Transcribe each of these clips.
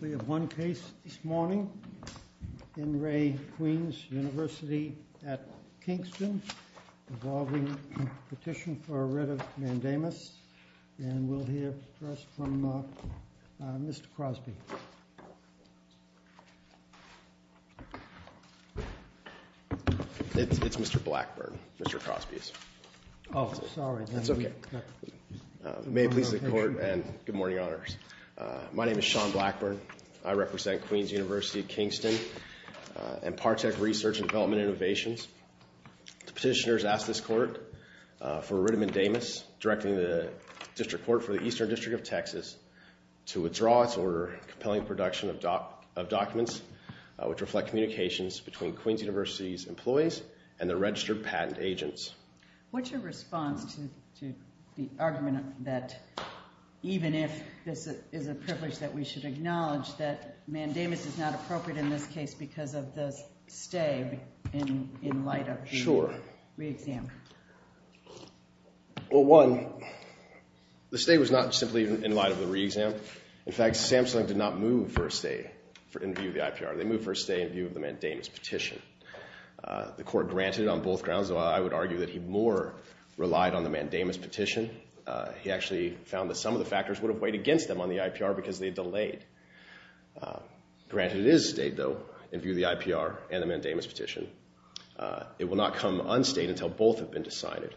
We have one case this morning in Re Queen's University at Kingston involving a petition for a writ of mandamus and we'll hear first from Mr. Crosby. It's Mr. Blackburn, Mr. Crosby's. Oh sorry. That's okay. May it please the clerk. I'm Sean Blackburn. I represent Queen's University at Kingston and Partek Research and Development Innovations. The petitioner has asked this court for a writ of mandamus directing the District Court for the Eastern District of Texas to withdraw its order compelling production of documents which reflect communications between Queen's University's employees and the registered patent agents. What's your response to the argument that even if this is a privilege that we should acknowledge that mandamus is not appropriate in this case because of the stay in light of the re-exam. Sure. Well one, the stay was not simply in light of the re-exam. In fact, SAMHSA did not move for a stay in view of the IPR. They moved for a stay in view of the mandamus petition. The court granted it on both grounds. I would argue that he more relied on the mandamus petition. He actually found that some of the IPR because they delayed. Granted it is stayed though in view of the IPR and the mandamus petition. It will not come unstayed until both have been decided.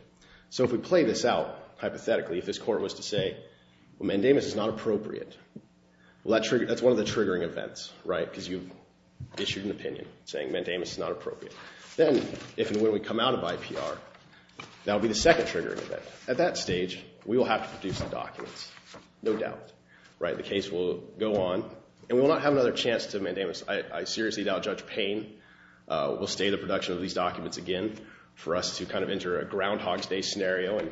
So if we play this out hypothetically, if this court was to say mandamus is not appropriate, well that's one of the triggering events, right? Because you issued an opinion saying mandamus is not appropriate. Then if and when we come out of IPR, that would be the second triggering event. At that stage, we will have to produce the documents. No doubt, right? The case will go on and we will not have another chance to mandamus. I seriously doubt Judge Payne will stay the production of these documents again for us to kind of enter a Groundhog's Day scenario and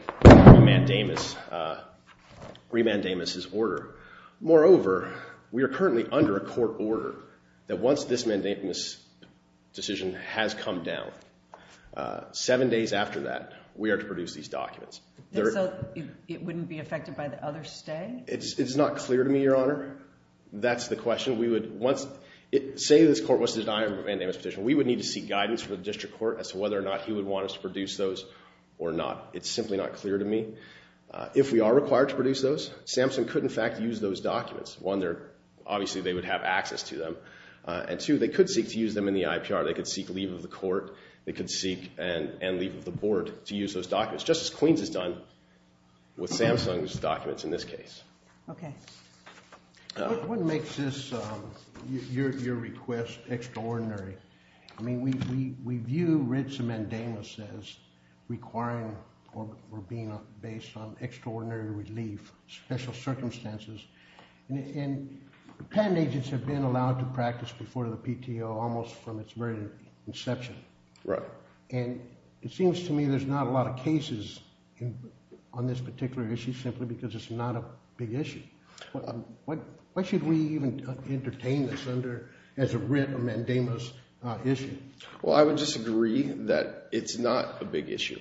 re-mandamus his order. Moreover, we are currently under a court order that once this mandamus decision has come down, seven days after that, we are to produce these documents. So it wouldn't be affected by the other stay? It's not clear to me, Your Honor. That's the question. We would, once it, say this court was to deny a mandamus petition, we would need to seek guidance from the district court as to whether or not he would want us to produce those or not. It's simply not clear to me. If we are required to produce those, Sampson could in fact use those documents. One, they're obviously they would have access to them. And two, they could seek to use them in the IPR. They could seek leave of the court. They could seek and leave of the board to use those documents, just as Queens has done with Sampson's documents in this case. Okay. What makes this, your request, extraordinary? I mean, we view writs of mandamus as requiring or being based on extraordinary relief, special circumstances. And patent agents have been allowed to practice before the PTO almost from its very inception. Right. And it seems to me there's not a lot of cases on this particular issue simply because it's not a big issue. Why should we even entertain this under as a writ of mandamus issue? Well, I would disagree that it's not a big issue.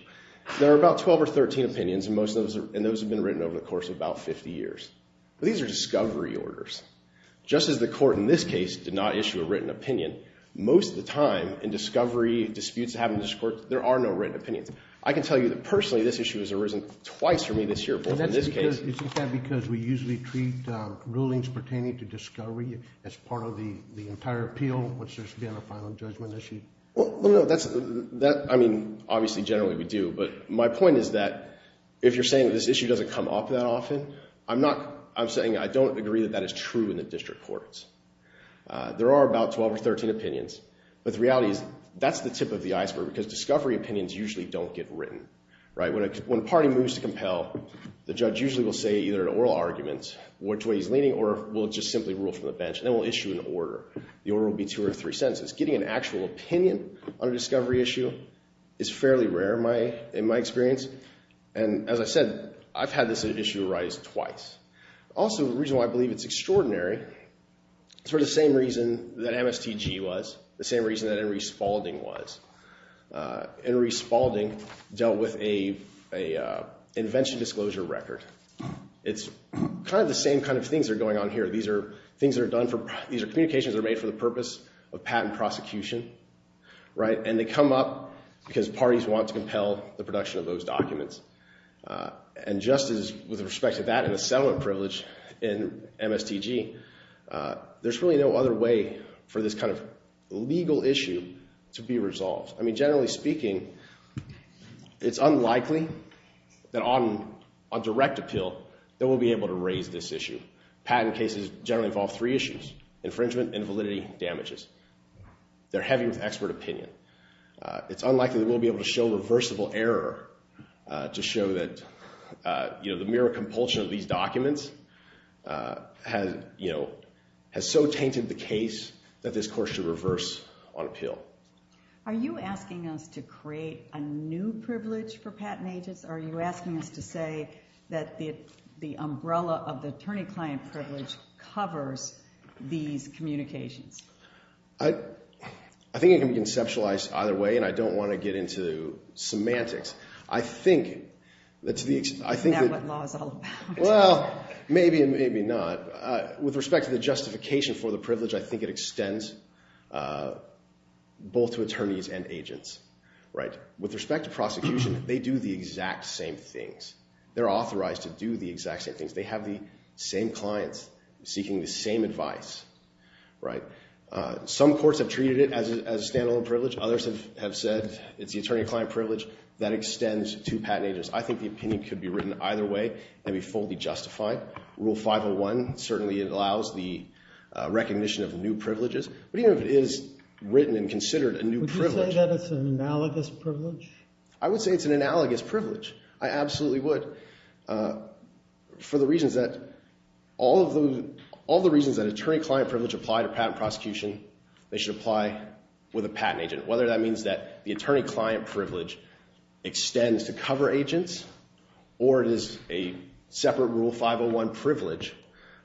There are about 12 or 13 opinions and most of those have been written over the course of about 50 years. These are discovery orders. Just as the court in this case did not issue a written opinion, most of the time in discovery disputes, there are no written opinions. I can tell you that personally, this issue has arisen twice for me this year. Is that because we usually treat rulings pertaining to discovery as part of the entire appeal, which there should be on a final judgment issue? Well, no. I mean, obviously generally we do. But my point is that if you're saying this issue doesn't come up that often, I'm saying I don't agree that that is true in the district courts. There are about 12 or 13 opinions. But the reality is that's the tip of the iceberg because discovery opinions usually don't get written. Right. When a party moves to compel, the judge usually will say either an oral argument, which way he's leaning, or we'll just simply rule from the bench. And then we'll issue an order. The order will be two or three sentences. Getting an actual opinion on a discovery issue is fairly rare in my experience. And as I said, I've had this issue arise twice. Also, the reason why I believe it's extraordinary is for the same reason that MSTG was, the same reason that Henry Spaulding was. Henry Spaulding dealt with an invention disclosure record. It's kind of the same kind of things that are going on here. These are communications that are made for the purpose of patent prosecution. Right. And they come up because parties want to compel the production of those documents. And just as with respect to that and the settlement privilege in MSTG, there's really no other way for this kind of legal issue to be resolved. I mean, generally speaking, it's unlikely that on a direct appeal that we'll be able to raise this issue. Patent cases generally involve three issues, infringement, invalidity, and damages. They're heavy with expert opinion. It's unlikely that we'll be able to show reversible error to show that the mere compulsion of these documents has so tainted the case that this courts should reverse on appeal. Are you asking us to create a new privilege for patent agents? Are you asking us to say that the umbrella of the attorney-client privilege covers these communications? I think it can be conceptualized either way. And I don't want to get into semantics. Is that what law is all about? Well, maybe and maybe not. With respect to the justification for the privilege, I think it extends both to attorneys and agents. With respect to prosecution, they do the exact same things. They're authorized to do the exact same things. They have the same clients seeking the same advice. Some courts have treated it as a standalone privilege. Others have said it's the attorney-client privilege that extends to patent agents. I think the opinion could be written either way and be fully justified. Rule 501 certainly allows the recognition of new privileges. But even if it is written and considered a new privilege. Would you say that it's an analogous privilege? I would say it's an analogous privilege. I absolutely would. For all the reasons that attorney-client privilege apply to patent prosecution, they should apply with a patent agent. Whether that means that the attorney-client privilege extends to cover agents or it is a separate Rule 501 privilege,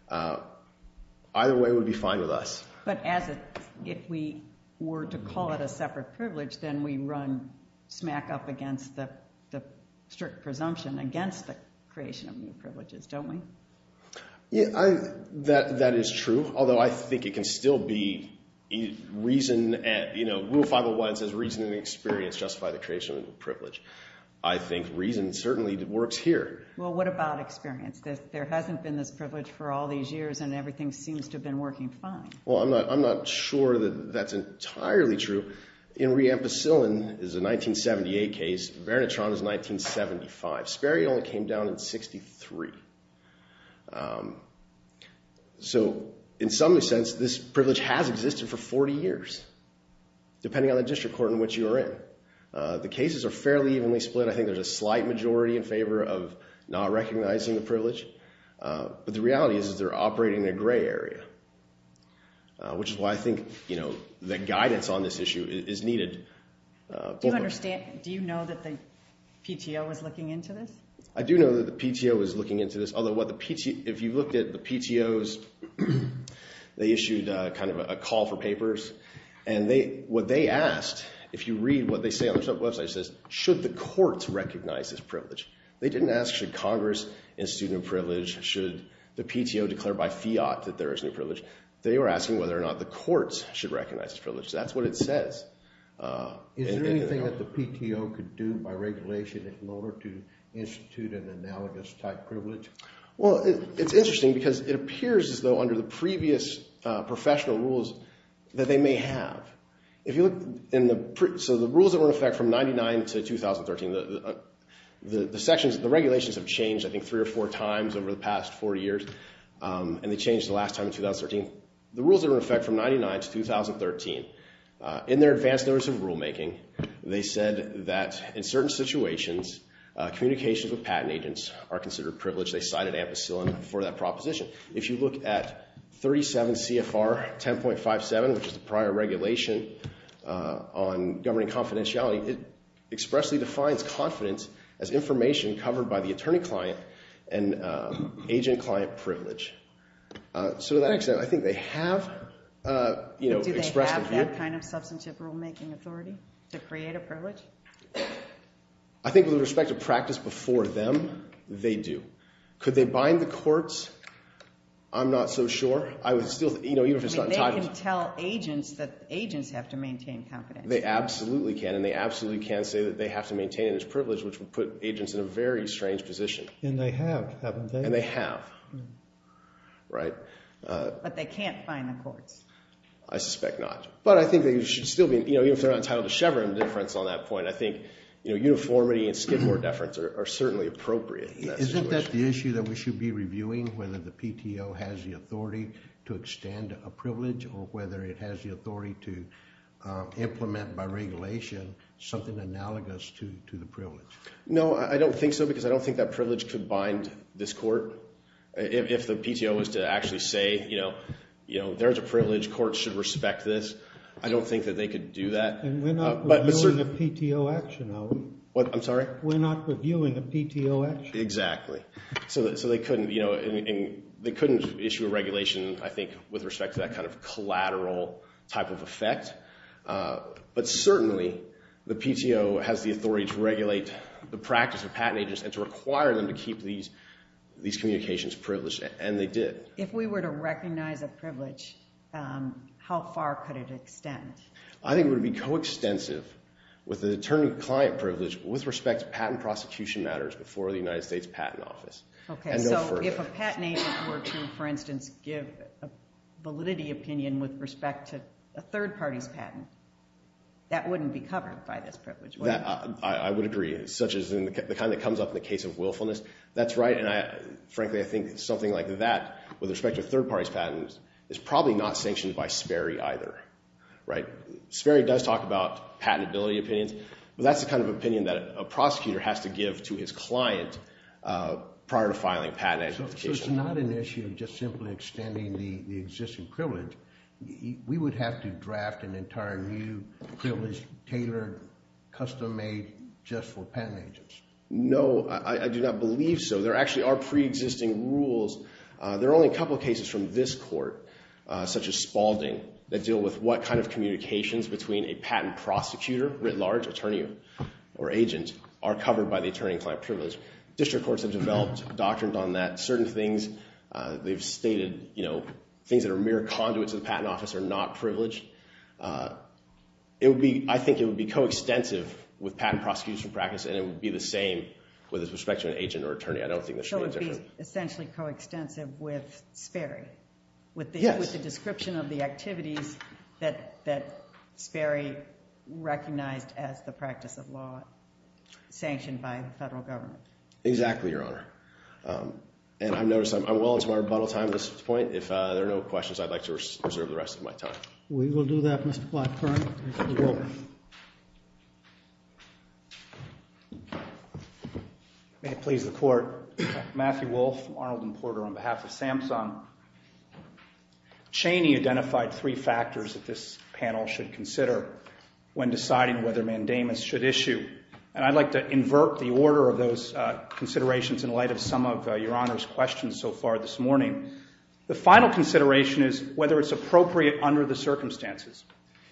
either way would be fine with us. But if we were to call it a separate privilege, then we run smack up against the strict presumption against the creation of new privileges, don't we? Yeah, that is true. Although I think it can still be reason, you know, Rule 501 says reason and experience justify the creation of new privilege. I think reason certainly works here. Well, what about experience? There hasn't been this privilege for all these years and everything seems to have been working fine. Well, I'm not sure that that's entirely true. In re-ampicillin is a 1978 case. Vernitron is 1975. Sperry only came down in 63. So, in some sense, this privilege has existed for 40 years, depending on the district court in which you are in. The cases are fairly evenly split. I think there's a slight majority in favor of not recognizing the privilege. But the reality is they're operating in a gray area, which is why I think, you know, the guidance on this issue is needed. Do you understand, do you know that the PTO is looking into this? I do know that the PTO is looking into this. Although, if you looked at the PTOs, they issued kind of a call for papers. And what they asked, if you read what they say on their website, it says, should the courts recognize this privilege? They didn't ask, should Congress institute new privilege? Should the PTO declare by fiat that there is new privilege? They were asking whether or not the courts should recognize this privilege. That's what it says. Is there anything that the PTO could do by regulation in order to institute an analogous type privilege? Well, it's interesting because it appears as though under the previous professional rules that they may have. If you look in the, so the rules that were in effect from 99 to 2013, the sections, the regulations have changed I think three or four times over the past 40 years. And they changed the last time in 2013. The rules that were in effect from 99 to 2013, in their advance notice of rulemaking, they said that in certain situations, communications with patent agents are considered privilege. They cited ampicillin for that proposition. If you look at 37 CFR 10.57, which is the prior regulation on governing confidentiality, it expressly defines confidence as information covered by the attorney client and agent-client privilege. So to that extent, I think they have expressed that view. Do they have that kind of substantive rulemaking authority to create a privilege? I think with respect to practice before them, they do. Could they bind the courts? I'm not so sure. They can tell agents that agents have to maintain confidence. They absolutely can. And they absolutely can say that they have to maintain it as privilege, which would put agents in a very strange position. And they have, right? But they can't bind the courts? I suspect not. But I think they should still be, you know, even if they're entitled to Chevron deference on that point, I think, you know, uniformity and Skidmore deference are certainly appropriate. Isn't that the issue that we should be reviewing, whether the PTO has the authority to extend a privilege or whether it has the authority to implement by regulation something analogous to the privilege? No, I don't think so because I don't think that privilege could bind this court. If the PTO was to actually say, you know, there's a privilege. Courts should respect this. I don't think that they could do that. And we're not reviewing a PTO action. What? I'm sorry? We're not reviewing a PTO action. Exactly. So they couldn't, you know, they couldn't issue a regulation, I think, with respect to that kind of collateral type of effect. But certainly the PTO has the authority to regulate the practice of patent agents and to require them to keep these communications privileged, and they did. If we were to recognize a privilege, how far could it extend? I think it would be coextensive with the attorney client privilege with respect to patent prosecution matters before the United States Patent Office. Okay, so if a patent agent were to, for instance, give a validity opinion with respect to a third party's patent, that wouldn't be covered by this privilege, would it? I would agree, such as the kind that comes up in the case of willfulness. That's right, and frankly, I think something like that with respect to third party's patents is probably not sanctioned by Sperry either, right? Sperry does talk about patentability opinions, but that's the kind of opinion that a prosecutor has to give to his client prior to filing a patent application. So it's not an issue just simply extending the existing privilege. We would have to draft an entire new privileged, tailored, custom-made just for patent agents. No, I do not believe so. There actually are pre-existing rules. There are only a couple cases from this court, such as Spaulding, that deal with what kind of communications between a patent prosecutor, writ large attorney or agent, are covered by the attorney client privilege. District courts have developed doctrines on that. Certain things, they've stated things that are mere conduits of the patent office are not privileged. I think it would be coextensive with patent prosecution practice, and it would be the same with respect to an agent or attorney. I don't think it's really different. So it would be essentially coextensive with Sperry, with the description of the activities that Sperry recognized as the practice of law sanctioned by the federal government. Exactly, Your Honor. And I've noticed I'm well into my rebuttal time at this point. If there are no questions, I'd like to reserve the rest of my time. We will do that, Mr. Blackburn. May it please the Court. Matthew Wolfe, Arnold and Porter, on behalf of Samsung. Cheney identified three factors that this panel should consider when deciding whether mandamus should issue. And I'd like to invert the order of those considerations in light of some of Your Honor's questions so far this morning. The final consideration is whether it's appropriate under the circumstances.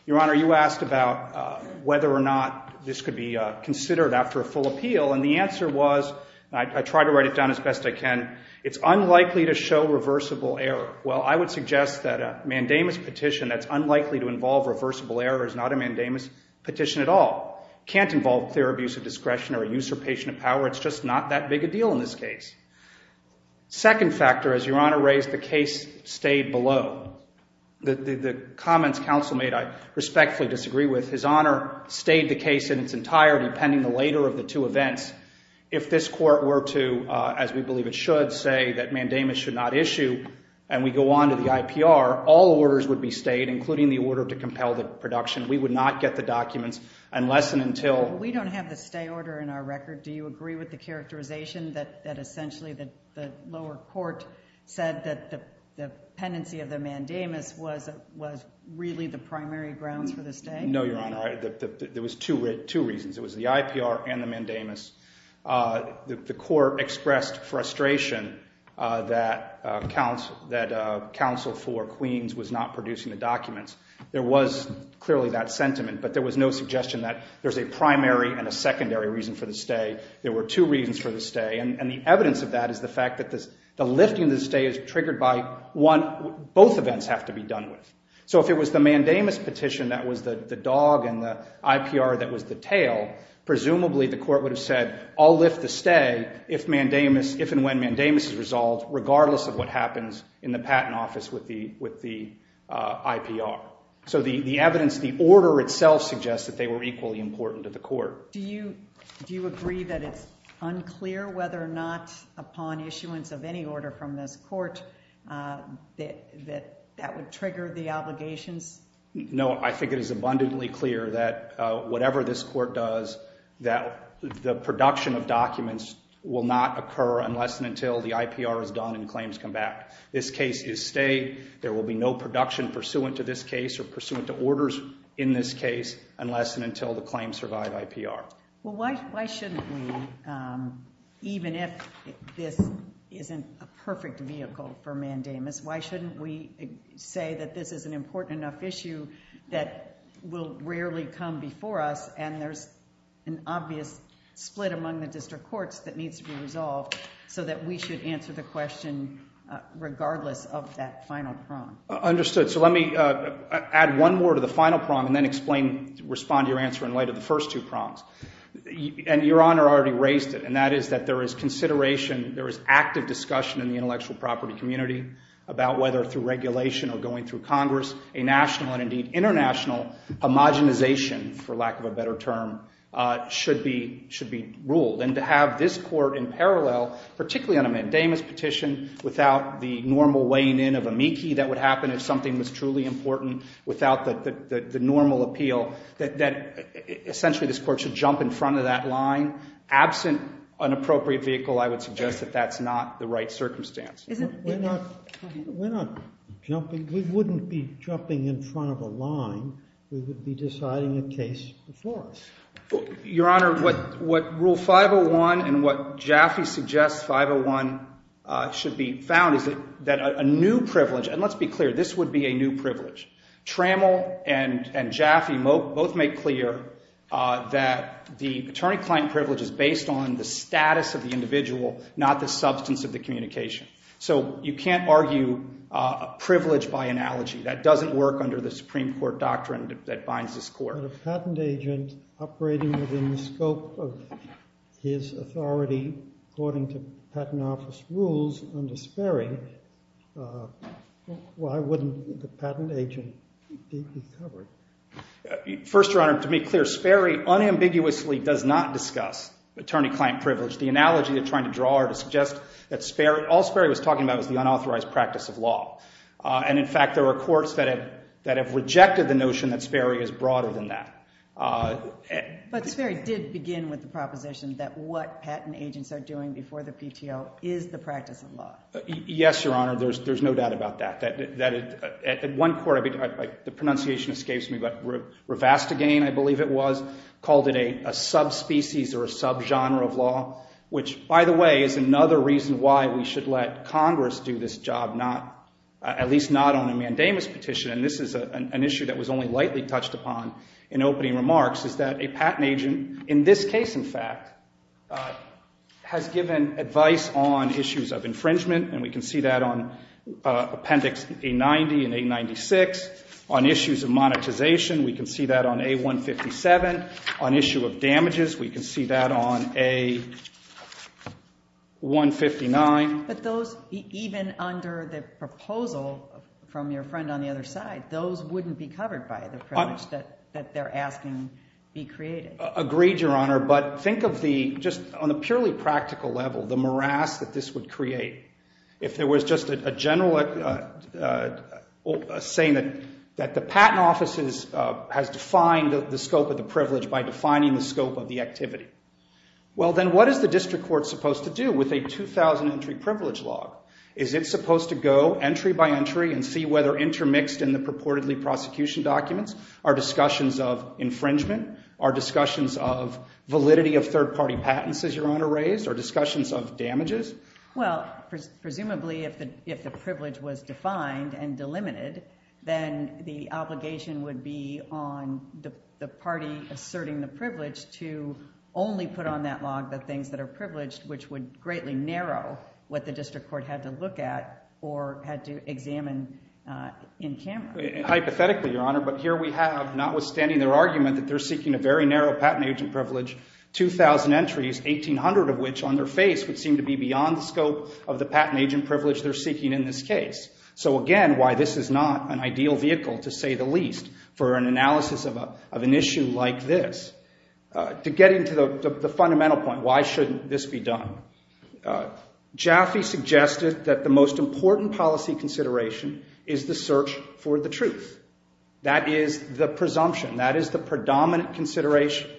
Your Honor, you asked about whether or not this could be considered after a full appeal, and the answer was, and I try to write it down as best I can, it's unlikely to show reversible error. Well, I would suggest that a mandamus petition that's unlikely to involve reversible error is not a mandamus petition at all. Can't involve clear abuse of discretion or usurpation of power. It's just not that big a deal in this case. Second factor, as Your Honor raised, the case stayed below. The comments counsel made I respectfully disagree with. His Honor stayed the case in its entirety pending the later of the two events. If this Court were to, as we believe it should, say that mandamus should not issue and we go on to the IPR, all orders would be stayed, including the order to compel the production. We would not get the documents unless and until. We don't have the stay order in our record. Do you agree with the characterization that essentially the lower court said that the pendency of the mandamus was really the primary grounds for the stay? No, Your Honor. There was two reasons. It was the IPR and the mandamus. The court expressed frustration that counsel for Queens was not producing the documents. There was clearly that sentiment, but there was no suggestion that there's a primary and a secondary reason for the stay. There were two reasons for the stay, and the evidence of that is the fact that the lifting of the stay is triggered by both events have to be done with. So if it was the mandamus petition that was the dog and the IPR that was the tail, presumably the court would have said, I'll lift the stay if and when mandamus is resolved, regardless of what happens in the patent office with the IPR. So the evidence, the order itself suggests that they were equally important to the court. Do you agree that it's unclear whether or not upon issuance of any order from this court that that would trigger the obligations? No, I think it is abundantly clear that whatever this court does, that the production of documents will not occur unless and until the IPR is done and claims come back. This case is stay. There will be no production pursuant to this case or pursuant to orders in this case unless and until the claims survive IPR. Well, why shouldn't we, even if this isn't a perfect vehicle for mandamus, why shouldn't we say that this is an important enough issue that will rarely come before us and there's an obvious split among the district courts that needs to be resolved so that we should answer the question regardless of that final prong? Understood. So let me add one more to the final prong and then explain, respond to your answer in light of the first two prongs. And Your Honor already raised it, and that is that there is consideration, there is active discussion in the intellectual property community about whether through regulation or going through Congress, a national and indeed international homogenization, for lack of a better term, should be ruled. And to have this court in parallel, particularly on a mandamus petition, without the normal weighing in of amici that would happen if something was truly important, without the normal appeal, that essentially this court should jump in front of that line. Absent an appropriate vehicle, I would suggest that that's not the right circumstance. We're not jumping. We wouldn't be jumping in front of a line. We would be deciding a case before us. Your Honor, what Rule 501 and what Jaffe suggests 501 should be found is that a new privilege, and let's be clear, this would be a new privilege. Trammell and Jaffe both make clear that the attorney-client privilege is based on the status of the individual, not the substance of the communication. So you can't argue a privilege by analogy. That doesn't work under the Supreme Court doctrine that binds this court. But a patent agent operating within the scope of his authority, according to Patent Office rules under Sperry, why wouldn't the patent agent be covered? First, Your Honor, to be clear, Sperry unambiguously does not discuss attorney-client privilege. The analogy they're trying to draw are to suggest that all Sperry was talking about was the unauthorized practice of law. And in fact, there are courts that have rejected the notion that Sperry is broader than that. But Sperry did begin with the proposition that what patent agents are doing before the PTO is the practice of law. Yes, Your Honor, there's no doubt about that. The pronunciation escapes me, but Rivastagane, I believe it was, called it a subspecies or a subgenre of law, which, by the way, is another reason why we should let Congress do this job, at least not on a mandamus petition. And this is an issue that was only lightly touched upon in opening remarks, is that a patent agent, in this case, in fact, has given advice on issues of infringement. And we can see that on Appendix A90 and A96. On issues of monetization, we can see that on A157. On issue of damages, we can see that on A159. But those, even under the proposal from your friend on the other side, those wouldn't be that they're asking be created. Agreed, Your Honor. But think of the, just on a purely practical level, the morass that this would create. If there was just a general saying that the patent office has defined the scope of the privilege by defining the scope of the activity. Well, then what is the district court supposed to do with a 2,000-entry privilege law? Is it supposed to go entry by entry and see whether intermixed in the purportedly prosecution documents? Are discussions of infringement? Are discussions of validity of third-party patents, as Your Honor raised? Are discussions of damages? Well, presumably, if the privilege was defined and delimited, then the obligation would be on the party asserting the privilege to only put on that log the things that are privileged, which would greatly narrow what the district court had to look at or had to examine in camera. Hypothetically, Your Honor, but here we have, notwithstanding their argument that they're seeking a very narrow patent agent privilege, 2,000 entries, 1,800 of which on their face would seem to be beyond the scope of the patent agent privilege they're seeking in this case. So again, why this is not an ideal vehicle, to say the least, for an analysis of an issue like this. To get into the fundamental point, why shouldn't this be done? Jaffe suggested that the most important policy consideration is the search for the truth. That is the presumption. That is the predominant consideration.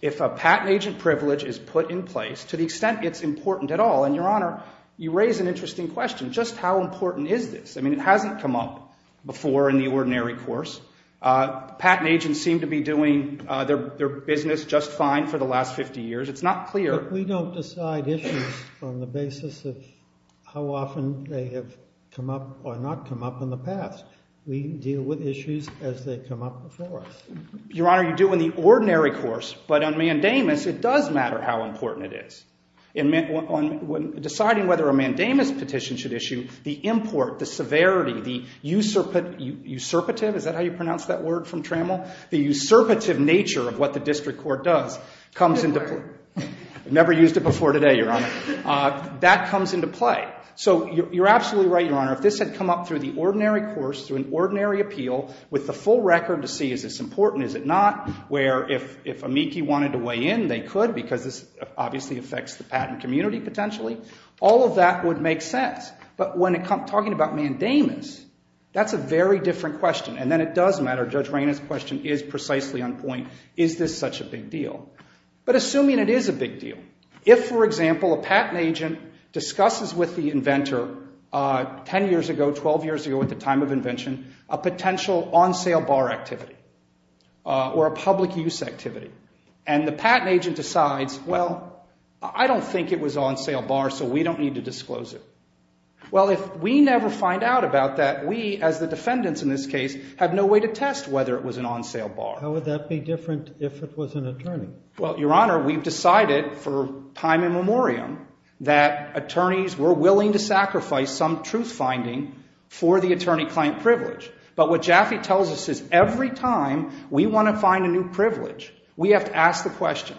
If a patent agent privilege is put in place, to the extent it's important at all, and Your Honor, you raise an interesting question. Just how important is this? I mean, it hasn't come up before in the ordinary course. Patent agents seem to be doing their business just fine for the last 50 years. It's not clear. But we don't decide issues on the basis of how often they have come up or not come up in the past. We deal with issues as they come up before us. Your Honor, you do in the ordinary course. But on mandamus, it does matter how important it is. In deciding whether a mandamus petition should issue, the import, the severity, the usurpative, is that how you pronounce that word from Trammell? The usurpative nature of what the district court does comes into play. I've never used it before today, Your Honor. That comes into play. So you're absolutely right, Your Honor. If this had come up through the ordinary course, through an ordinary appeal, with the full record to see is this important, is it not, where if amici wanted to weigh in, they could, because this obviously affects the patent community potentially, all of that would make sense. But when talking about mandamus, that's a very different question. And then it does matter, Judge Reina's question is precisely on point, is this such a big deal? But assuming it is a big deal, if, for example, a patent agent discusses with the inventor 10 years ago, 12 years ago, at the time of invention, a potential on-sale bar activity or a public use activity, and the patent agent decides, well, I don't think it was on-sale bar, so we don't need to disclose it. Well, if we never find out about that, we as the defendants in this case have no way to test whether it was an on-sale bar. How would that be different if it was an attorney? Well, Your Honor, we've decided for time immemorial that attorneys were willing to sacrifice some truth finding for the attorney-client privilege. But what Jaffe tells us is every time we want to find a new privilege, we have to ask the question,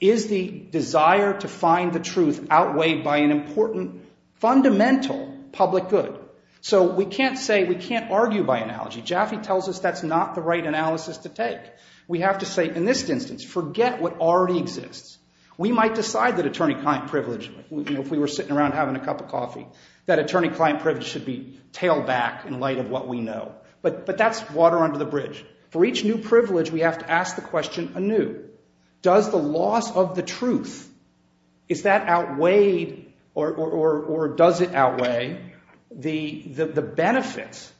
is the desire to find the truth outweighed by an important fundamental public good? So we can't say, we can't argue by analogy. Jaffe tells us that's not the right analysis to take. We have to say, in this instance, forget what already exists. We might decide that attorney-client privilege, you know, if we were sitting around having a cup of coffee, that attorney-client privilege should be tailed back in light of what we know. But that's water under the bridge. For each new privilege, we have to ask the question anew, does the loss of the truth, is that outweighed or does it outweigh the benefits?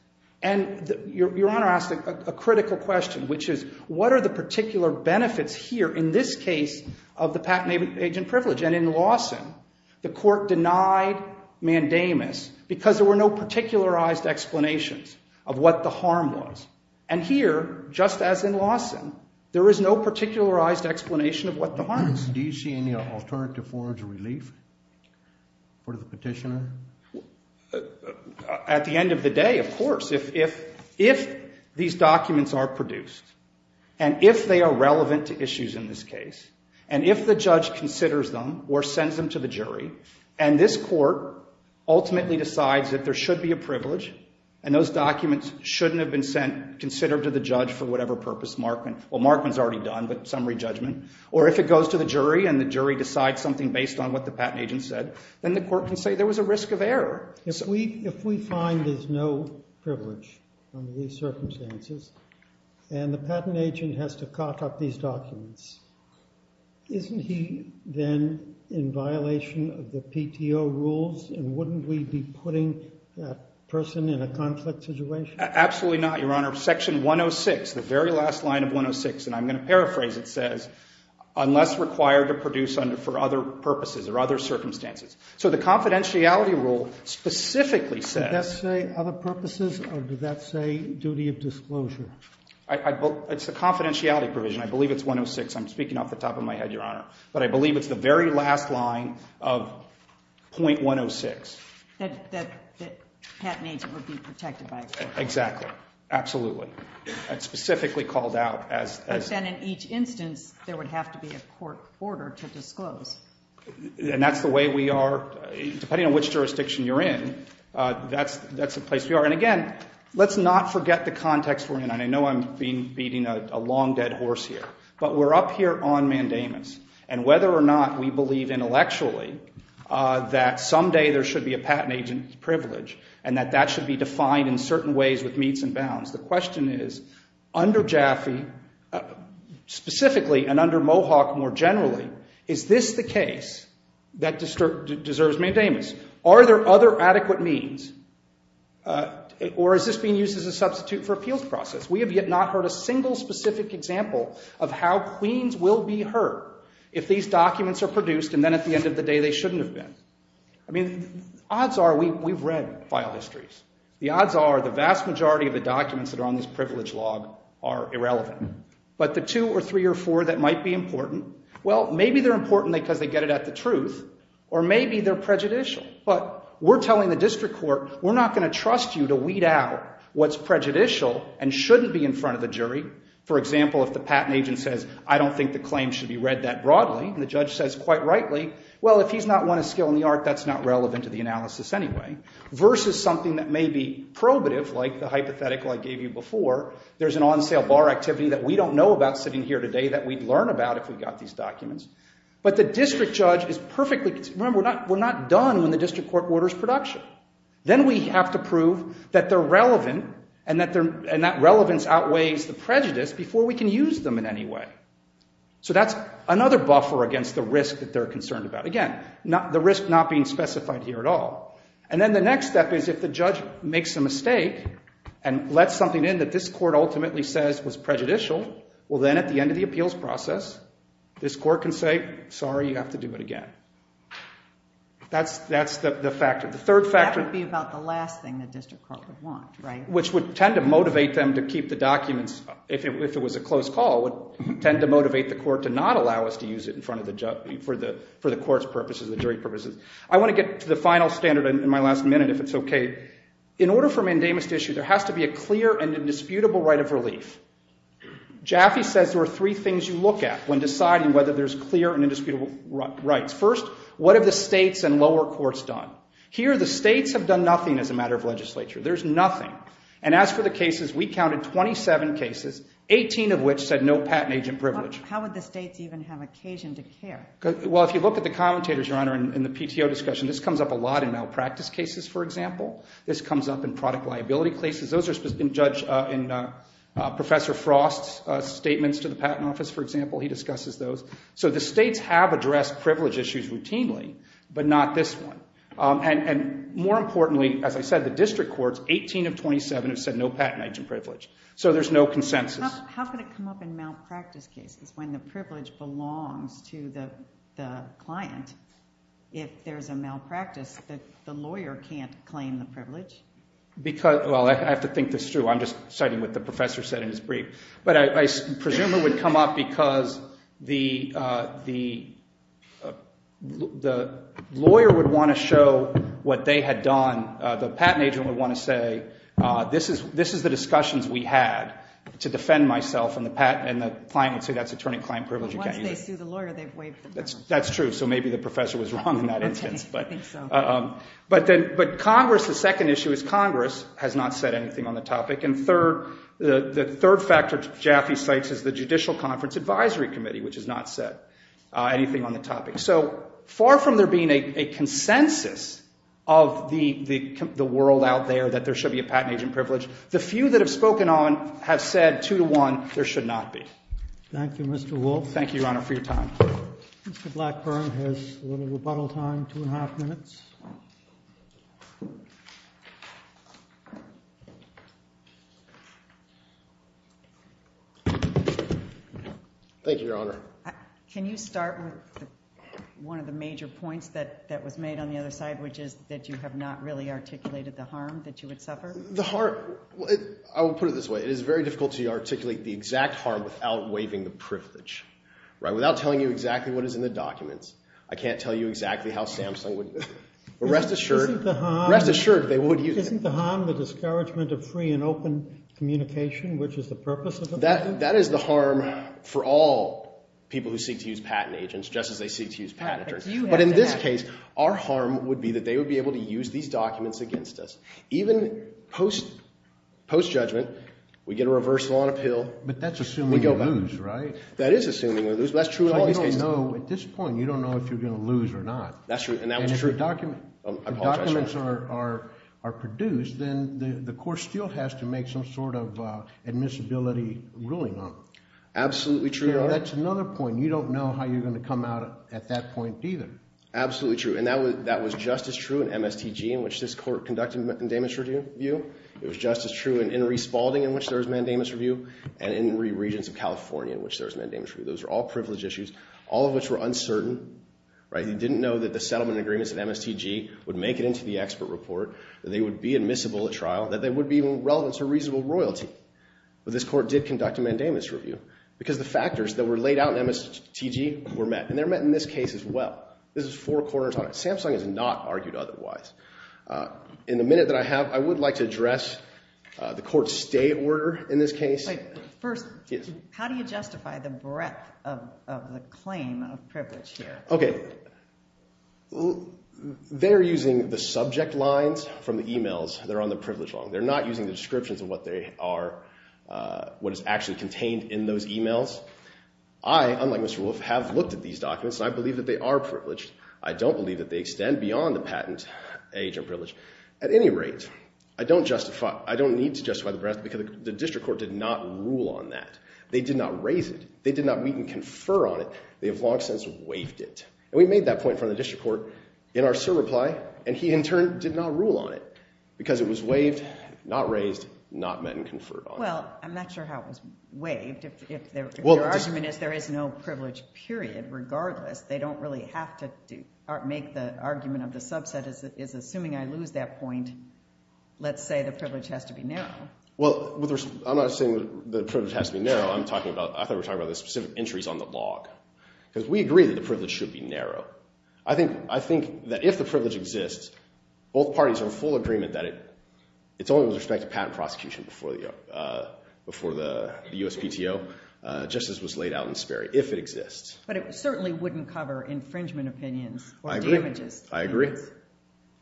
And Your Honor asked a critical question, which is, what are the particular benefits here in this case of the patent agent privilege? And in Lawson, the court denied mandamus because there were no particularized explanations of what the harm was. And here, just as in Lawson, there is no particularized explanation of what the harm is. Do you see any alternative forms of relief for the petitioner? At the end of the day, of course, if these documents are produced, and if they are relevant to issues in this case, and if the judge considers them or sends them to the jury, and this court ultimately decides that there should be a privilege and those documents shouldn't have been sent, considered to the judge for whatever purpose, Markman, well Markman's already done, but summary judgment, or if it goes to the jury and the jury decides something based on what the patent agent said, then the court can say there was a risk of error. If we find there's no privilege under these circumstances, and the patent agent has to cut up these documents, isn't he then in violation of the PTO rules, and wouldn't we be putting that person in a conflict situation? Absolutely not, Your Honor. Section 106, the very last line of for other purposes or other circumstances. So the confidentiality rule specifically says... Did that say other purposes, or did that say duty of disclosure? It's the confidentiality provision. I believe it's 106. I'm speaking off the top of my head, Your Honor, but I believe it's the very last line of .106. That the patent agent would be protected by it. Exactly. Absolutely. It's specifically called out as... In each instance, there would have to be a court order to disclose. And that's the way we are, depending on which jurisdiction you're in, that's the place we are. And again, let's not forget the context we're in, and I know I'm beating a long dead horse here, but we're up here on mandamus, and whether or not we believe intellectually that someday there should be a patent agent's privilege, and that that should be defined in certain ways with bounds, the question is, under Jaffe, specifically, and under Mohawk more generally, is this the case that deserves mandamus? Are there other adequate means? Or is this being used as a substitute for appeals process? We have yet not heard a single specific example of how queens will be heard if these documents are produced, and then at the end of the day, they shouldn't have been. I mean, odds are we've read file histories. The odds are the vast majority of the documents that are on this privilege log are irrelevant. But the two or three or four that might be important, well, maybe they're important because they get it at the truth, or maybe they're prejudicial. But we're telling the district court, we're not going to trust you to weed out what's prejudicial and shouldn't be in front of the jury. For example, if the patent agent says, I don't think the claim should be read that broadly, and the judge says quite rightly, well, if he's not one of skill in the art, that's not relevant to the analysis anyway, versus something that may be probative, like the hypothetical I gave you before. There's an on-sale bar activity that we don't know about sitting here today that we'd learn about if we got these documents. But the district judge is perfectly... Remember, we're not done when the district court orders production. Then we have to prove that they're relevant, and that relevance outweighs the prejudice before we can use them in any way. So that's another buffer against the risk that they're concerned about. Again, the risk not being specified here at all. And then the next step is if the judge makes a mistake and lets something in that this court ultimately says was prejudicial, well, then at the end of the appeals process, this court can say, sorry, you have to do it again. That's the factor. The third factor... That would be about the last thing the district court would want, right? Which would tend to motivate them to keep the documents, if it was a closed call, would tend to motivate the court to not allow us to use it in front of for the court's purposes, the jury purposes. I want to get to the final standard in my last minute, if it's okay. In order for mandamus to issue, there has to be a clear and indisputable right of relief. Jaffe says there are three things you look at when deciding whether there's clear and indisputable rights. First, what have the states and lower courts done? Here, the states have done nothing as a matter of legislature. There's nothing. And as for the cases, we counted 27 cases, 18 of which said no patent agent privilege. How would the states even have the occasion to care? Well, if you look at the commentators, Your Honor, in the PTO discussion, this comes up a lot in malpractice cases, for example. This comes up in product liability cases. Those have been judged in Professor Frost's statements to the Patent Office, for example. He discusses those. So the states have addressed privilege issues routinely, but not this one. And more importantly, as I said, the district courts, 18 of 27 have said no patent agent privilege. So there's no consensus. How can it come up in malpractice cases when the the client, if there's a malpractice, that the lawyer can't claim the privilege? Well, I have to think this through. I'm just citing what the professor said in his brief. But I presume it would come up because the lawyer would want to show what they had done. The patent agent would want to say, this is the discussions we had to defend myself. And the client would say, that's attorney-client privilege. But once they sue the lawyer, they've waived the balance. That's true. So maybe the professor was wrong in that instance. But Congress, the second issue is Congress has not said anything on the topic. And the third factor Jaffee cites is the Judicial Conference Advisory Committee, which has not said anything on the topic. So far from there being a consensus of the world out there that there should be a patent agent privilege, the few that have spoken on have said two to one, there should not be. Thank you, Mr. Wolf. Thank you, Your Honor, for your time. Mr. Blackburn has a little rebuttal time, two and a half minutes. Thank you, Your Honor. Can you start with one of the major points that was made on the other side, which is that you have not really articulated the harm that you would suffer? The harm, I will put it this way. It is very difficult to articulate the exact harm without waiving the privilege, without telling you exactly what is in the documents. I can't tell you exactly how Samsung would, but rest assured, rest assured they would use it. Isn't the harm the discouragement of free and open communication, which is the purpose of the patent? That is the harm for all people who seek to use patent agents, just as they seek to use patent attorneys. But in this case, our harm would be that they would be able to use these documents against us. Even post-judgment, we get a reversal on appeal. But that's assuming we lose, right? That is assuming we lose, but that's true in all these cases. At this point, you don't know if you're going to lose or not. That's true, and that was true. And if documents are produced, then the court still has to make some sort of admissibility ruling on it. Absolutely true, Your Honor. That's another point. You don't know how you're going to come out at that point either. Absolutely true, and that was just as true in MSTG, in which this court conducted mandamus review. It was just as true in Enri Spalding, in which there was mandamus review, and in Enri Regents of California, in which there was mandamus review. Those are all privilege issues, all of which were uncertain, right? You didn't know that the settlement agreements at MSTG would make it into the expert report, that they would be admissible at trial, that they would be relevant to reasonable royalty. But this court did conduct a mandamus review, because the factors that were This is four corners on it. Samsung has not argued otherwise. In the minute that I have, I would like to address the court's stay order in this case. First, how do you justify the breadth of the claim of privilege here? Okay, they're using the subject lines from the emails that are on the privilege law. They're not using the descriptions of what they are, what is actually contained in those emails. I, unlike Mr. Wolf, have looked at these documents, and I believe that they are privileged. I don't believe that they extend beyond the patent age of privilege. At any rate, I don't justify, I don't need to justify the breadth, because the district court did not rule on that. They did not raise it. They did not meet and confer on it. They have long since waived it. And we made that point in front of the district court in our SIR reply, and he, in turn, did not rule on it, because it was waived, not raised, not met and conferred on. Well, I'm not sure how it was waived, if their argument is there is no privilege, period, regardless. They don't really have to make the argument of the subset is, assuming I lose that point, let's say the privilege has to be narrow. Well, I'm not saying the privilege has to be narrow. I'm talking about, I thought we were talking about the specific entries on the log, because we agree that the privilege should be narrow. I think that if the privilege exists, both parties are in full agreement that it's only with respect to patent prosecution before the USPTO, just as was laid out in Sperry, if it exists. But it certainly wouldn't cover infringement opinions or damages. I agree.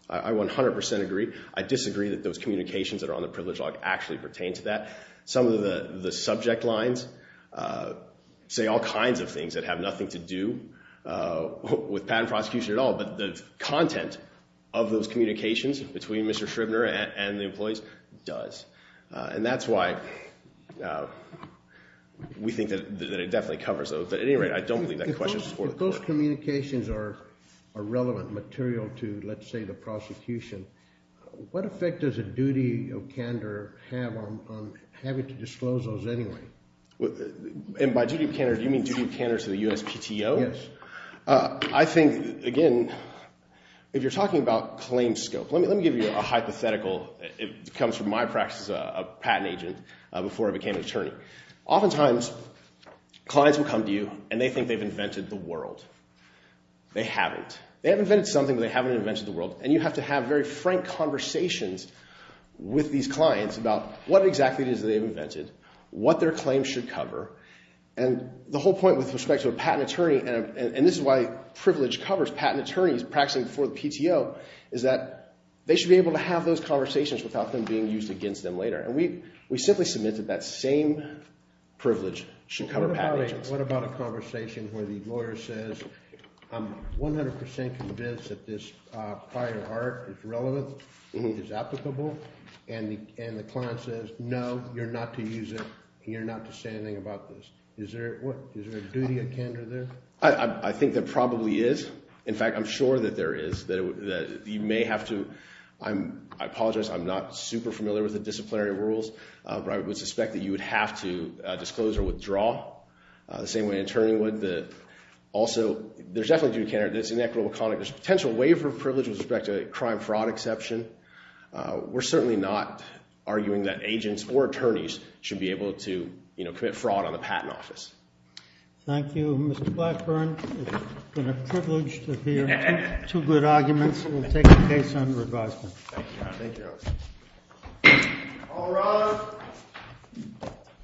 I 100% agree. I disagree that those communications that are on the privilege log actually pertain to that. Some of the subject lines say all kinds of things that have nothing to do with patent prosecution at all, but the content of those communications between Mr. Shribner and the employees does. And that's why we think that it definitely covers those. But at any rate, I don't believe that question supports that. If those communications are relevant material to, let's say, the prosecution, what effect does a duty of candor have on having to disclose those anyway? And by duty of candor, do you mean duty of candor to the USPTO? Yes. I think, again, if you're talking about claim scope, let me give you a hypothetical. It comes from my practice as a patent agent before I became an attorney. Oftentimes, clients will come to you and they think they've invented the world. They haven't. They have invented something, but they haven't invented the world. And you have to have very frank conversations with these clients about what exactly it is that they've invented, what their claims should cover. And the whole point with respect to a patent attorney, and this is why privilege covers patent attorneys practicing before the PTO, is that they should be able to have those conversations without them being used against them later. And we simply submitted that same privilege should cover patent agents. What about a conversation where the lawyer says, I'm 100% convinced that this prior art is relevant, is applicable, and the client says, no, you're not to use it, and you're not to say anything about this. Is there a duty of candor there? I think there probably is. In fact, I'm sure that there is. You may have to, I apologize, I'm not super familiar with the disciplinary rules, but I would suspect that you would have to disclose or withdraw the same way an attorney would. Also, there's definitely a duty of candor. There's inequitable conduct. There's a potential waiver of privilege with respect to a crime fraud exception. We're certainly not arguing that agents or attorneys should be able to commit fraud on the patent office. Thank you, Mr. Blackburn. It's been a privilege to hear two good arguments. We'll take the case under advisement. Thank you.